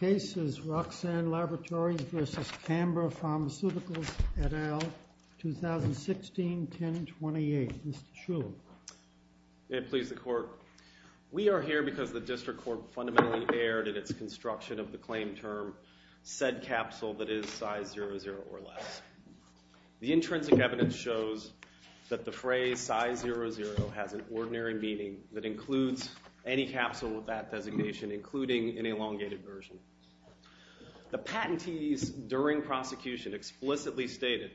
2016-1028, Mr. Shulman. May it please the Court, we are here because the District Court fundamentally erred in its construction of the claim term, said capsule that is size 00 or less. The intrinsic evidence shows that the phrase size 00 has an ordinary meaning that includes any capsule with that designation, including an elongated version. The patentees during prosecution explicitly stated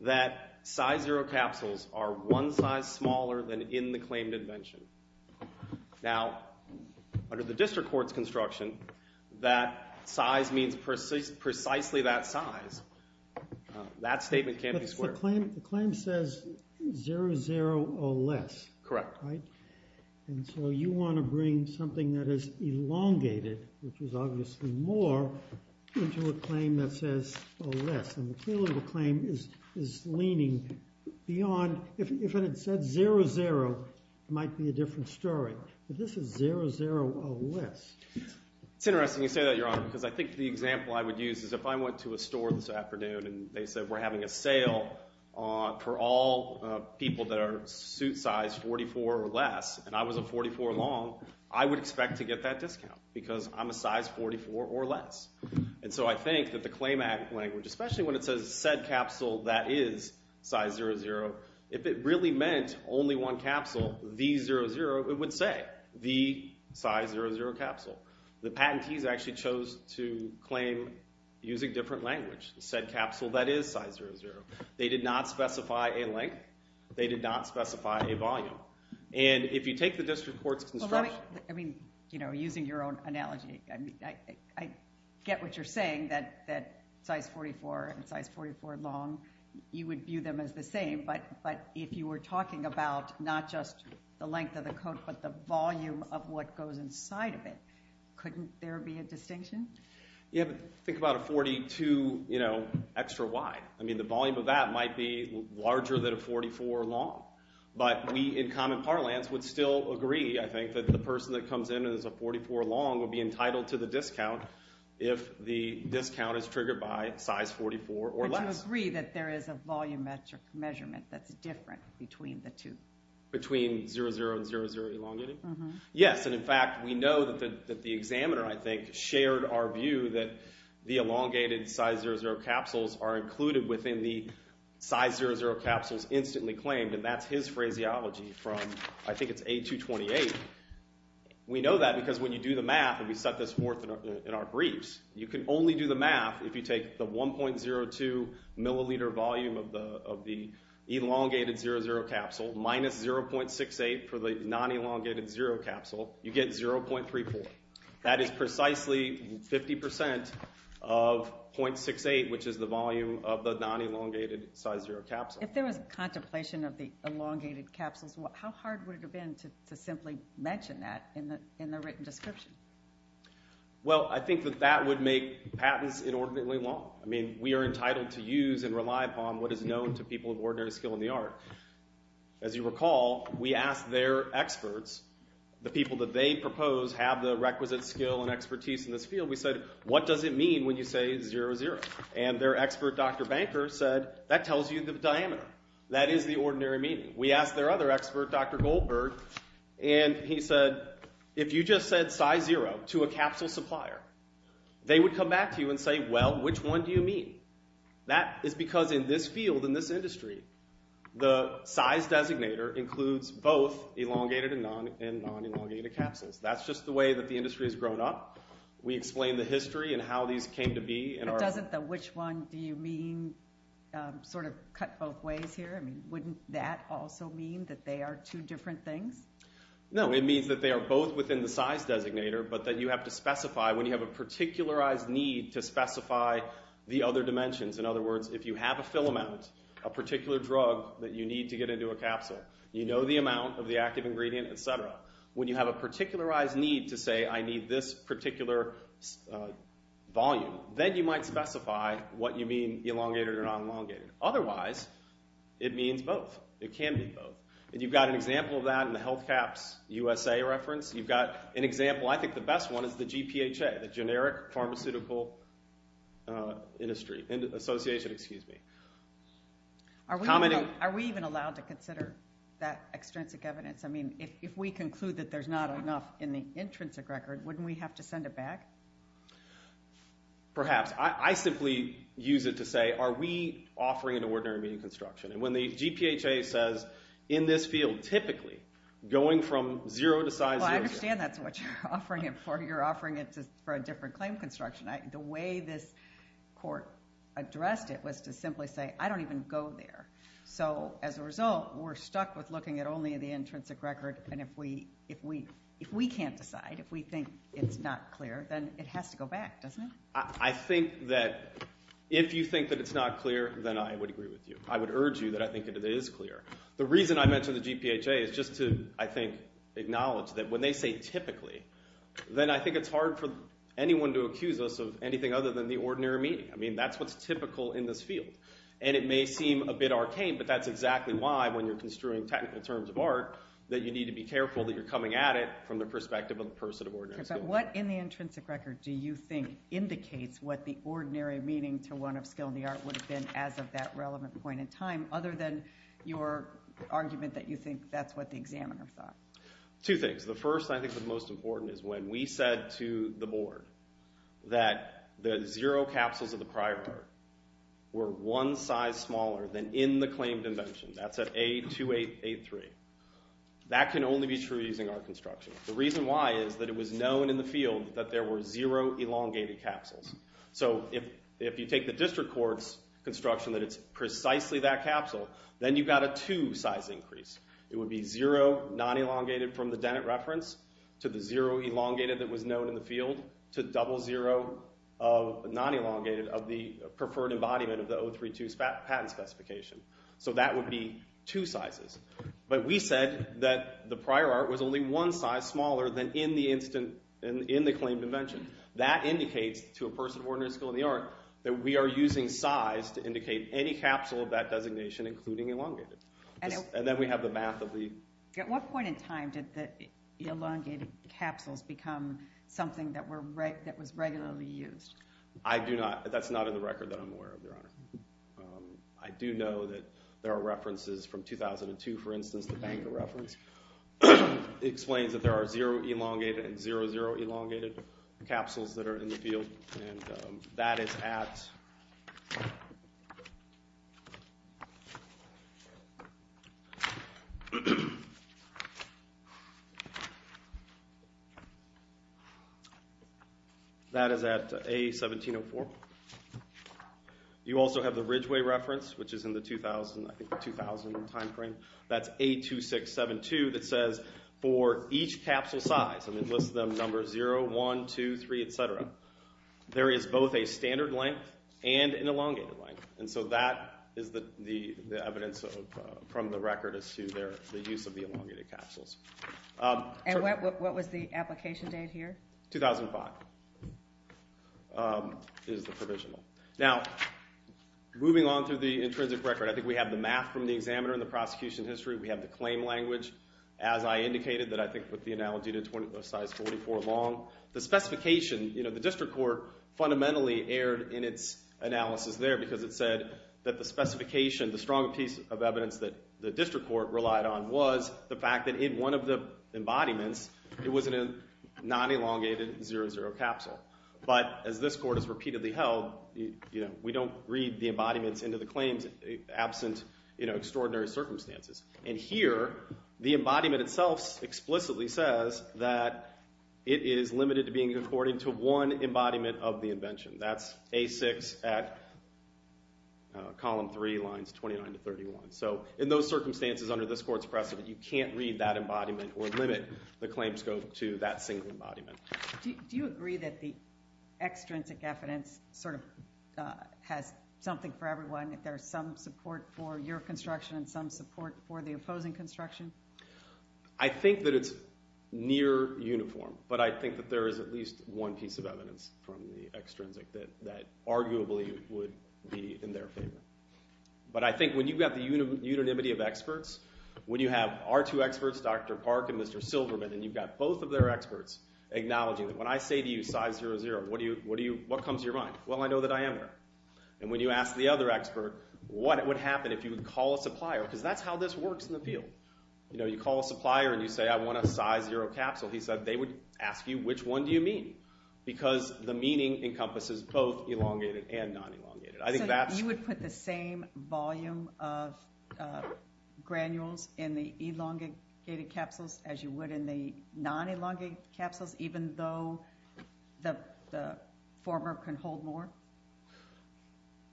that size 0 capsules are one size smaller than in the claimed invention. Now, under the District Court's construction, that size means precisely that size. That statement can't be squared. But the claim says 00 or less, right? Correct. And so you want to bring something that is elongated, which is obviously more, into a claim that says or less, and clearly the claim is leaning beyond, if it had said 00, it might be a different story. But this is 00 or less. It's interesting you say that, Your Honor, because I think the example I would use is if I went to a store this afternoon and they said we're having a sale for all people that are suit size 44 or less, and I was a 44 long, I would expect to get that discount, because I'm a size 44 or less. And so I think that the claim language, especially when it says said capsule that is size 00, if it really meant only one capsule, the 00, it would say, the size 00 capsule. The patentees actually chose to claim using different language, said capsule that is size 00. They did not specify a length. They did not specify a volume. And if you take the District Court's construction... Well, let me... I mean, using your own analogy, I get what you're saying, that size 44 and size 44 long, you would view them as the same. But if you were talking about not just the length of the coat, but the volume of what goes inside of it, couldn't there be a distinction? Yeah, but think about a 42 extra wide. I mean, the volume of that might be larger than a 44 long. But we in common parlance would still agree, I think, that the person that comes in as a 44 long would be entitled to the discount if the discount is triggered by size 44 or So you don't agree that there is a volumetric measurement that's different between the two? Between 00 and 00 elongated? Mm-hmm. Yes, and in fact, we know that the examiner, I think, shared our view that the elongated size 00 capsules are included within the size 00 capsules instantly claimed, and that's his phraseology from, I think it's A228. We know that because when you do the math, and we set this forth in our briefs, you can only do the math if you take the 1.02 milliliter volume of the elongated 00 capsule minus 0.68 for the non-elongated 0 capsule, you get 0.34. That is precisely 50% of 0.68, which is the volume of the non-elongated size 0 capsule. If there was contemplation of the elongated capsules, how hard would it have been to simply mention that in the written description? Well, I think that that would make patents inordinately long. I mean, we are entitled to use and rely upon what is known to people of ordinary skill in the art. As you recall, we asked their experts, the people that they propose have the requisite skill and expertise in this field, we said, what does it mean when you say 00? And their expert, Dr. Banker, said, that tells you the diameter. That is the ordinary meaning. We asked their other expert, Dr. Goldberg, and he said, if you just said size 0 to a capsule supplier, they would come back to you and say, well, which one do you mean? That is because in this field, in this industry, the size designator includes both elongated and non-elongated capsules. That's just the way that the industry has grown up. We explain the history and how these came to be. But doesn't the which one do you mean sort of cut both ways here? I mean, wouldn't that also mean that they are two different things? No, it means that they are both within the size designator, but that you have to specify when you have a particularized need to specify the other dimensions. In other words, if you have a fill amount, a particular drug that you need to get into a capsule, you know the amount of the active ingredient, et cetera, when you have a particularized need to say, I need this particular volume, then you might specify what you mean elongated or non-elongated. Otherwise, it means both. It can be both. And you've got an example of that in the Health Caps USA reference. You've got an example. I think the best one is the GPHA, the Generic Pharmaceutical Industry, Association, excuse me. Are we even allowed to consider that extrinsic evidence? I mean, if we conclude that there's not enough in the intrinsic record, wouldn't we have to send it back? Perhaps. I simply use it to say, are we offering an ordinary median construction? And when the GPHA says, in this field, typically, going from zero to size zero. Well, I understand that's what you're offering it for. You're offering it for a different claim construction. The way this court addressed it was to simply say, I don't even go there. So as a result, we're stuck with looking at only the intrinsic record. And if we can't decide, if we think it's not clear, then it has to go back, doesn't it? I think that if you think that it's not clear, then I would agree with you. I would urge you that I think that it is clear. The reason I mentioned the GPHA is just to, I think, acknowledge that when they say typically, then I think it's hard for anyone to accuse us of anything other than the ordinary median. I mean, that's what's typical in this field. And it may seem a bit arcane, but that's exactly why, when you're construing technical terms of art, that you need to be careful that you're coming at it from the perspective of the person of ordinary skill. What in the intrinsic record do you think indicates what the ordinary meaning to one of skill in the art would have been as of that relevant point in time, other than your argument that you think that's what the examiner thought? Two things. The first, and I think the most important, is when we said to the board that the zero capsules of the prior art were one size smaller than in the claimed invention. That's at A2883. That can only be true using our construction. The reason why is that it was known in the field that there were zero elongated capsules. So if you take the district court's construction that it's precisely that capsule, then you've got a two size increase. It would be zero non-elongated from the Dennett reference, to the zero elongated that was known in the field, to double zero non-elongated of the preferred embodiment of the 032 patent specification. So that would be two sizes. But we said that the prior art was only one size smaller than in the instant, in the claimed invention. That indicates to a person of ordinary skill in the art that we are using size to indicate any capsule of that designation, including elongated. And then we have the math of the... At what point in time did the elongated capsules become something that was regularly used? I do not. That's not in the record that I'm aware of, Your Honor. I do know that there are references from 2002, for instance, the Banker reference, explains that there are zero elongated and zero, zero elongated capsules that are in the field. That is at... That is at A1704. You also have the Ridgeway reference, which is in the 2000, I think the 2000 time frame. That's A2672 that says for each capsule size, and it lists them number zero, one, two, three, et cetera. There is both a standard length and an elongated length. And so that is the evidence from the record as to their, the use of the elongated capsules. And what was the application date here? 2005. Is the provisional. Now, moving on through the intrinsic record, I think we have the math from the examiner and the prosecution history. We have the claim language, as I indicated, that I think put the analogy to size 44 long. The specification, you know, the district court fundamentally erred in its analysis there because it said that the specification, the strong piece of evidence that the district court relied on was the fact that in one of the embodiments, it was in a non-elongated 00 capsule. But as this court has repeatedly held, you know, we don't read the embodiments into the claims absent, you know, extraordinary circumstances. And here, the embodiment itself explicitly says that it is limited to being according to one embodiment of the invention. That's A6 at column three, lines 29 to 31. So in those circumstances under this court's precedent, you can't read that embodiment or limit the claim scope to that single embodiment. Do you agree that the extrinsic evidence sort of has something for everyone, that there is some support for your construction and some support for the opposing construction? I think that it's near uniform, but I think that there is at least one piece of evidence from the extrinsic that arguably would be in their favor. But I think when you've got the unanimity of experts, when you have our two experts, Dr. Park and Mr. Silverman, and you've got both of their experts acknowledging that when I say to you, size 00, what comes to your mind? Well, I know that I am there. And when you ask the other expert, what would happen if you would call a supplier, because that's how this works in the field. You know, you call a supplier and you say, I want a size 00 capsule, he said, they would ask you, which one do you mean? Because the meaning encompasses both elongated and non-elongated. So you would put the same volume of granules in the elongated capsules as you would in the non-elongated capsules, even though the former can hold more?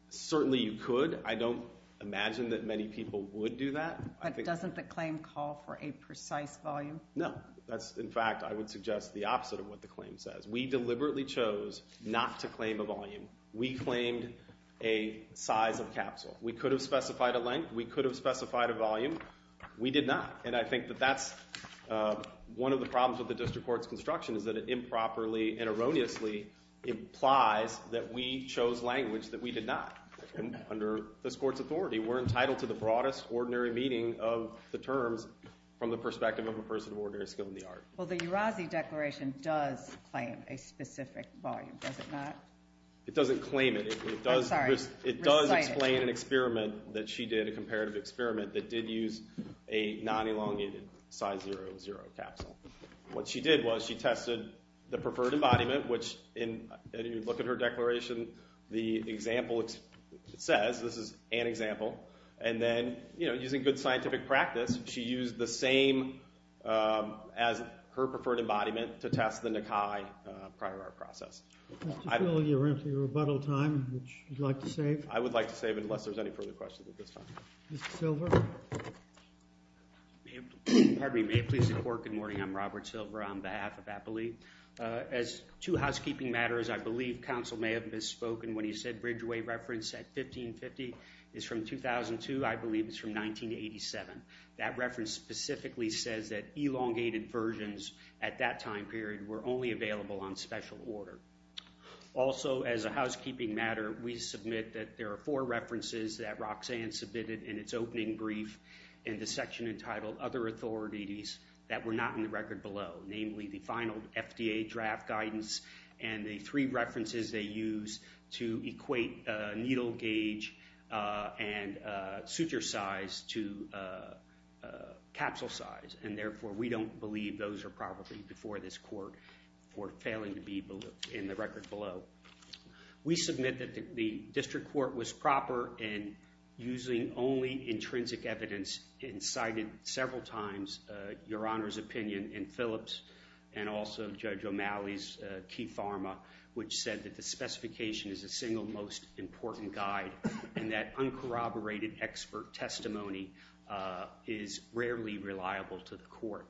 Certainly you could. I don't imagine that many people would do that. But doesn't the claim call for a precise volume? No. In fact, I would suggest the opposite of what the claim says. We deliberately chose not to claim a volume. We claimed a size of capsule. We could have specified a length. We could have specified a volume. We did not. And I think that that's one of the problems with the district court's construction is that it improperly and erroneously implies that we chose language that we did not. Under this court's authority, we're entitled to the broadest ordinary meaning of the terms from the perspective of a person of ordinary skill in the art. Well, the Urazi Declaration does claim a specific volume, does it not? It doesn't claim it. I'm sorry. Recite it. It does explain an experiment that she did, a comparative experiment that did use a non-elongated size 00 capsule. What she did was she tested the preferred embodiment, which if you look at her declaration, the example it says, this is an example, and then using good scientific practice, she used the same as her preferred embodiment to test the Nikai prior art process. Mr. Peele, you're in for your rebuttal time, which you'd like to save? I would like to save it unless there's any further questions at this time. Mr. Silver? Pardon me. May it please the court, good morning. I'm Robert Silver on behalf of Appley. As to housekeeping matters, I believe counsel may have misspoken when he said bridgeway reference at 1550 is from 2002. I believe it's from 1987. That reference specifically says that elongated versions at that time period were only available on special order. Also as a housekeeping matter, we submit that there are four references that Roxanne submitted in its opening brief in the section entitled Other Authorities that were not in the record below, namely the final FDA draft guidance and the three references they use to equate needle gauge and suture size to capsule size, and therefore we don't believe those are probably before this court for failing to be in the record below. We submit that the district court was proper in using only intrinsic evidence and cited several times Your Honor's opinion in Phillips and also Judge O'Malley's key pharma, which said that the specification is the single most important guide and that uncorroborated expert testimony is rarely reliable to the court.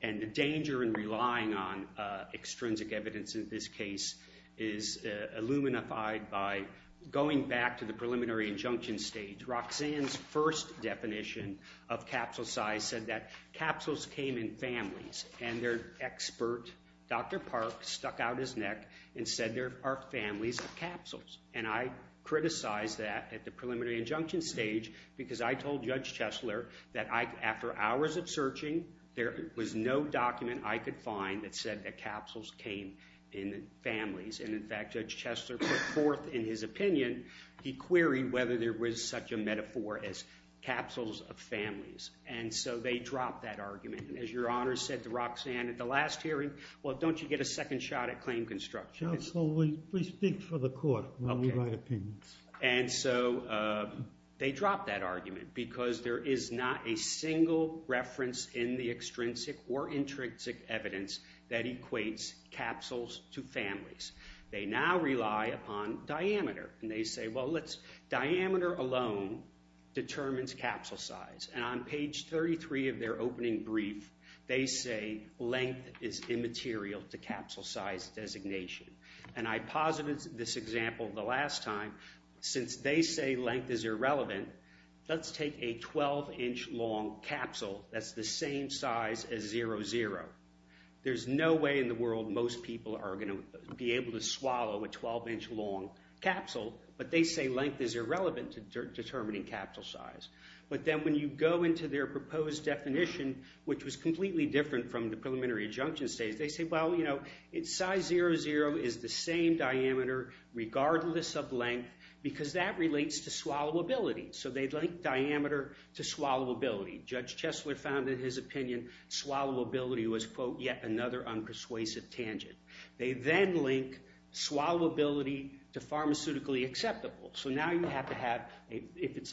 And the danger in relying on extrinsic evidence in this case is illuminified by going back to the preliminary injunction stage. Roxanne's first definition of capsule size said that capsules came in families and their expert, Dr. Park, stuck out his neck and said there are families of capsules. And I criticized that at the preliminary injunction stage because I told Judge Chesler that after hours of searching, there was no document I could find that said that capsules came in families. And in fact, Judge Chesler put forth in his opinion, he queried whether there was such a metaphor as capsules of families. And so they dropped that argument. And as Your Honor said to Roxanne at the last hearing, well, don't you get a second shot at claim construction? Counsel, we speak for the court when we write opinions. And so they dropped that argument because there is not a single reference in the extrinsic or intrinsic evidence that equates capsules to families. They now rely upon diameter and they say, well, let's, diameter alone determines capsule size. And on page 33 of their opening brief, they say length is immaterial to capsule size designation. And I posited this example the last time, since they say length is irrelevant, let's take a 12-inch long capsule that's the same size as 00. There's no way in the world most people are going to be able to swallow a 12-inch long capsule, but they say length is irrelevant to determining capsule size. But then when you go into their proposed definition, which was completely different from the preliminary adjunction statement, they say, well, you know, size 00 is the same diameter regardless of length because that relates to swallowability. So they link diameter to swallowability. Judge Chesler found in his opinion swallowability was, quote, yet another unpersuasive tangent. They then link swallowability to pharmaceutically acceptable. So now you have to have, it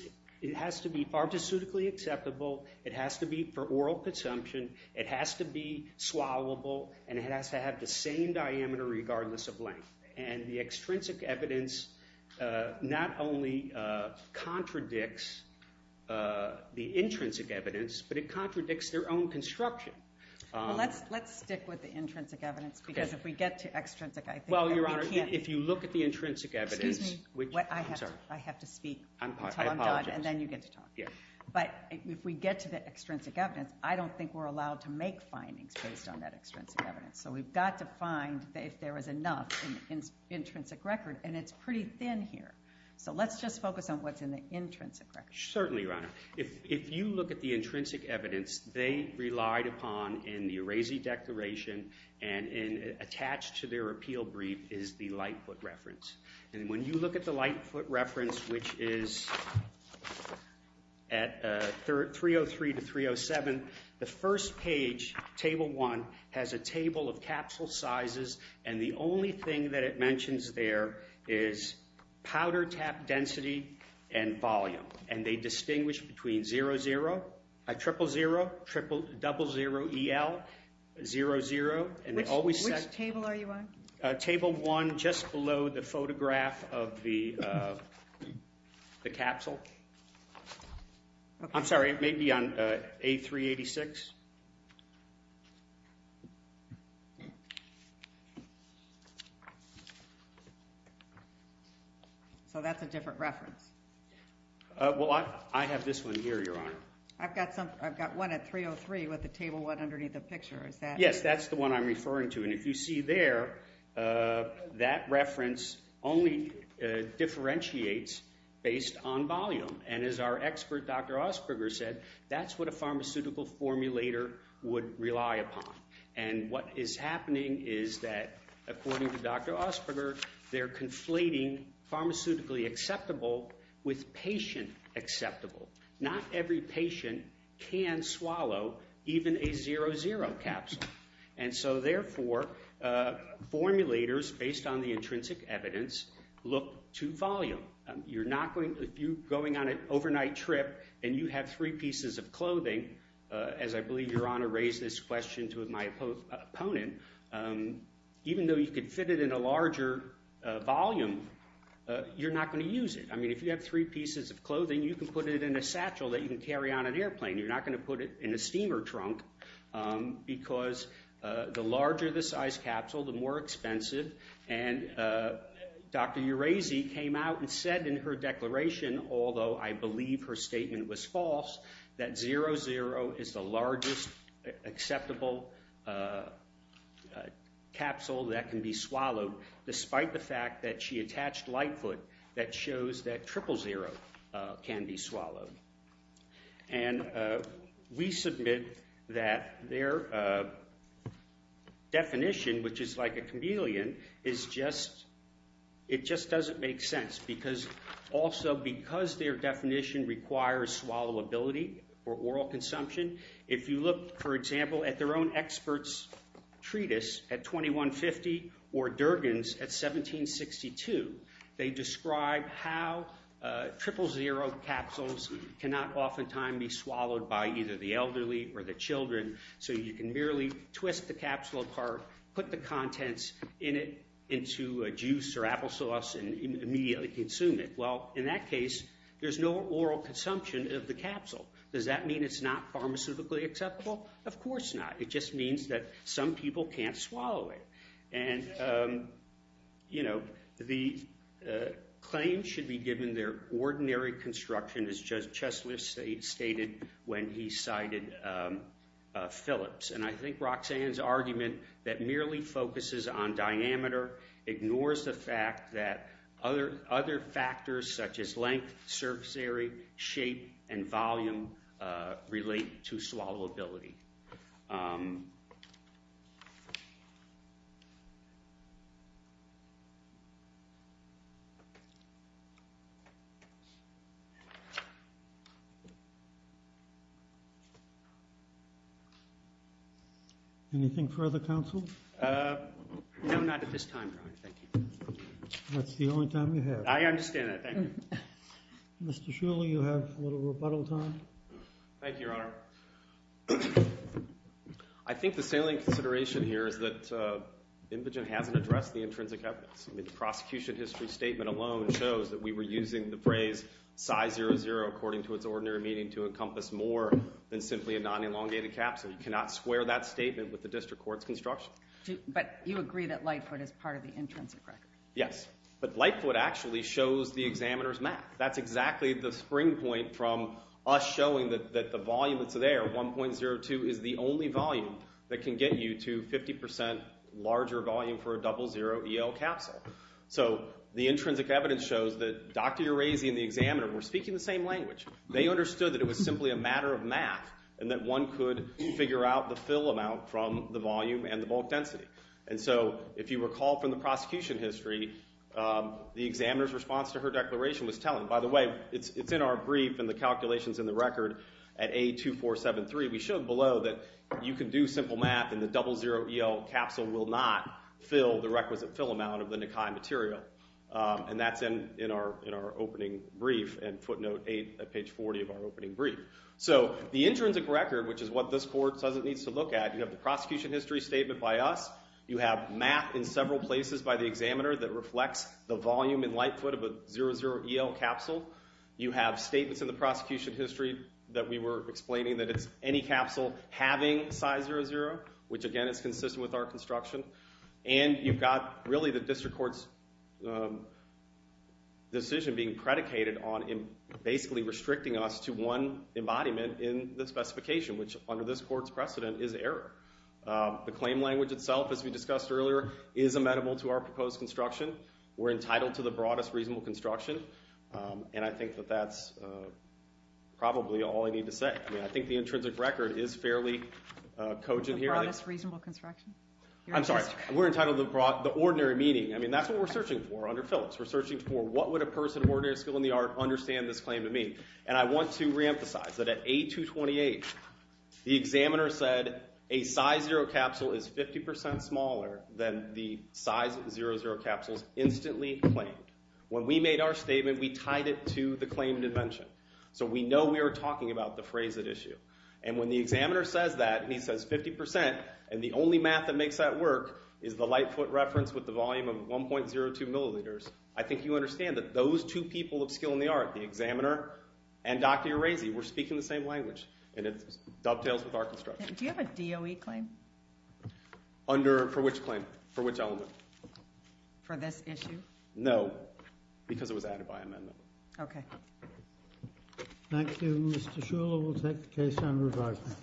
has to be pharmaceutically acceptable, it has to be for oral consumption, it has to be swallowable, and it has to have the same diameter regardless of length. And the extrinsic evidence not only contradicts the intrinsic evidence, but it contradicts their own construction. Let's stick with the intrinsic evidence because if we get to extrinsic, I think that we can't If you look at the intrinsic evidence, which, I'm sorry. I have to speak until I'm done, and then you get to talk. But if we get to the extrinsic evidence, I don't think we're allowed to make findings based on that extrinsic evidence. So we've got to find if there is enough in the intrinsic record. And it's pretty thin here. So let's just focus on what's in the intrinsic record. Certainly, Your Honor. If you look at the intrinsic evidence, they relied upon in the Arezzi Declaration and attached to their appeal brief is the Lightfoot reference. And when you look at the Lightfoot reference, which is at 303 to 307, the first page, Table 1, has a table of capsule sizes. And the only thing that it mentions there is powder tap density and volume. And they distinguish between 00, 000, 00EL, 00, and they always set... Which table are you on? Table 1, just below the photograph of the capsule. I'm sorry, it may be on A386. So that's a different reference? Well, I have this one here, Your Honor. I've got one at 303 with the Table 1 underneath the picture. Is that... Yes, that's the one I'm referring to. And if you see there, that reference only differentiates based on volume. And as our expert, Dr. Osperger, said, that's what a pharmaceutical formulator would rely upon. And what is happening is that, according to Dr. Osperger, they're conflating pharmaceutically acceptable with patient acceptable. Not every patient can swallow even a 00 capsule. And so, therefore, formulators, based on the intrinsic evidence, look to volume. You're not going... If you're going on an overnight trip and you have three pieces of clothing, as I believe Your Honor raised this question to my opponent, even though you could fit it in a larger volume, you're not going to use it. I mean, if you have three pieces of clothing, you can put it in a satchel that you can carry on an airplane. You're not going to put it in a steamer trunk. Because the larger the size capsule, the more expensive. And Dr. Urazi came out and said in her declaration, although I believe her statement was false, that 00 is the largest acceptable capsule that can be swallowed, despite the fact that she attached Lightfoot that shows that 000 can be swallowed. And we submit that their definition, which is like a chameleon, is just... It just doesn't make sense because... Also, because their definition requires swallowability or oral consumption. If you look, for example, at their own experts' treatise at 2150 or Durgan's at 1762, they describe how 000 capsules cannot oftentimes be swallowed by either the elderly or the children, so you can merely twist the capsule apart, put the contents in it into a juice or applesauce, and immediately consume it. Well, in that case, there's no oral consumption of the capsule. Does that mean it's not pharmaceutically acceptable? Of course not. It just means that some people can't swallow it. And, you know, the claims should be given their ordinary construction, as Judge Chesley stated when he cited Phillips. And I think Roxanne's argument that merely focuses on diameter ignores the fact that other factors, such as length, surface area, shape, and volume, relate to swallowability. Thank you. Anything further, counsel? No, not at this time, Your Honor. Thank you. That's the only time you have. I understand that. Thank you. Mr. Shuler, you have a little rebuttal time. Thank you, Your Honor. I think the salient consideration here is that Imogen hasn't addressed the intrinsic evidence. I mean, the prosecution history statement alone shows that we were using the phrase Psy00 according to its ordinary meaning to encompass more than simply a non-elongated capsule. You cannot square that statement with the district court's construction. But you agree that Lightfoot is part of the intrinsic record. Yes, but Lightfoot actually shows the examiner's math. That's exactly the spring point from us showing that the volume that's there, 1.02, is the only volume that can get you to 50% larger volume for a 00EL capsule. So the intrinsic evidence shows that Dr. Urazi and the examiner were speaking the same language. They understood that it was simply a matter of math and that one could figure out the fill amount from the volume and the bulk density. And so if you recall from the prosecution history, the examiner's response to her declaration was telling. By the way, it's in our brief and the calculations in the record at A2473. We showed below that you can do simple math and the 00EL capsule will not fill the requisite fill amount of the Nikai material. And that's in our opening brief and footnote 8 at page 40 of our opening brief. So the intrinsic record, which is what this court says it needs to look at, you have the prosecution history statement by us, you have math in several places by the examiner that reflects the volume and light foot of a 00EL capsule, you have statements in the prosecution history that we were explaining that it's any capsule having size 00, which again is consistent with our construction, and you've got really the district court's decision being predicated on basically restricting us to one embodiment in the specification, which under this court's precedent is error. The claim language itself, as we discussed earlier, is amenable to our proposed construction. We're entitled to the broadest reasonable construction, and I think that that's probably all I need to say. I mean, I think the intrinsic record is fairly cogent here. The broadest reasonable construction? I'm sorry. We're entitled to the ordinary meaning. I mean, that's what we're searching for under Phillips. We're searching for what would a person of ordinary skill in the art understand this claim to mean? And I want to reemphasize that at A228, the examiner said a size 0 capsule is 50% smaller than the size 00 capsules instantly claimed. When we made our statement, we tied it to the claim dimension, so we know we were talking about the phrase at issue. And when the examiner says that and he says 50%, and the only math that makes that work is the light foot reference with the volume of 1.02 milliliters, I think you understand that those two people of skill in the art, the examiner and Dr. Urazi, were speaking the same language, and it dovetails with our construction. Do you have a DOE claim? Under which claim? For which element? For this issue? No, because it was added by amendment. Okay. Thank you. Mr. Shuler will take the case under advisement.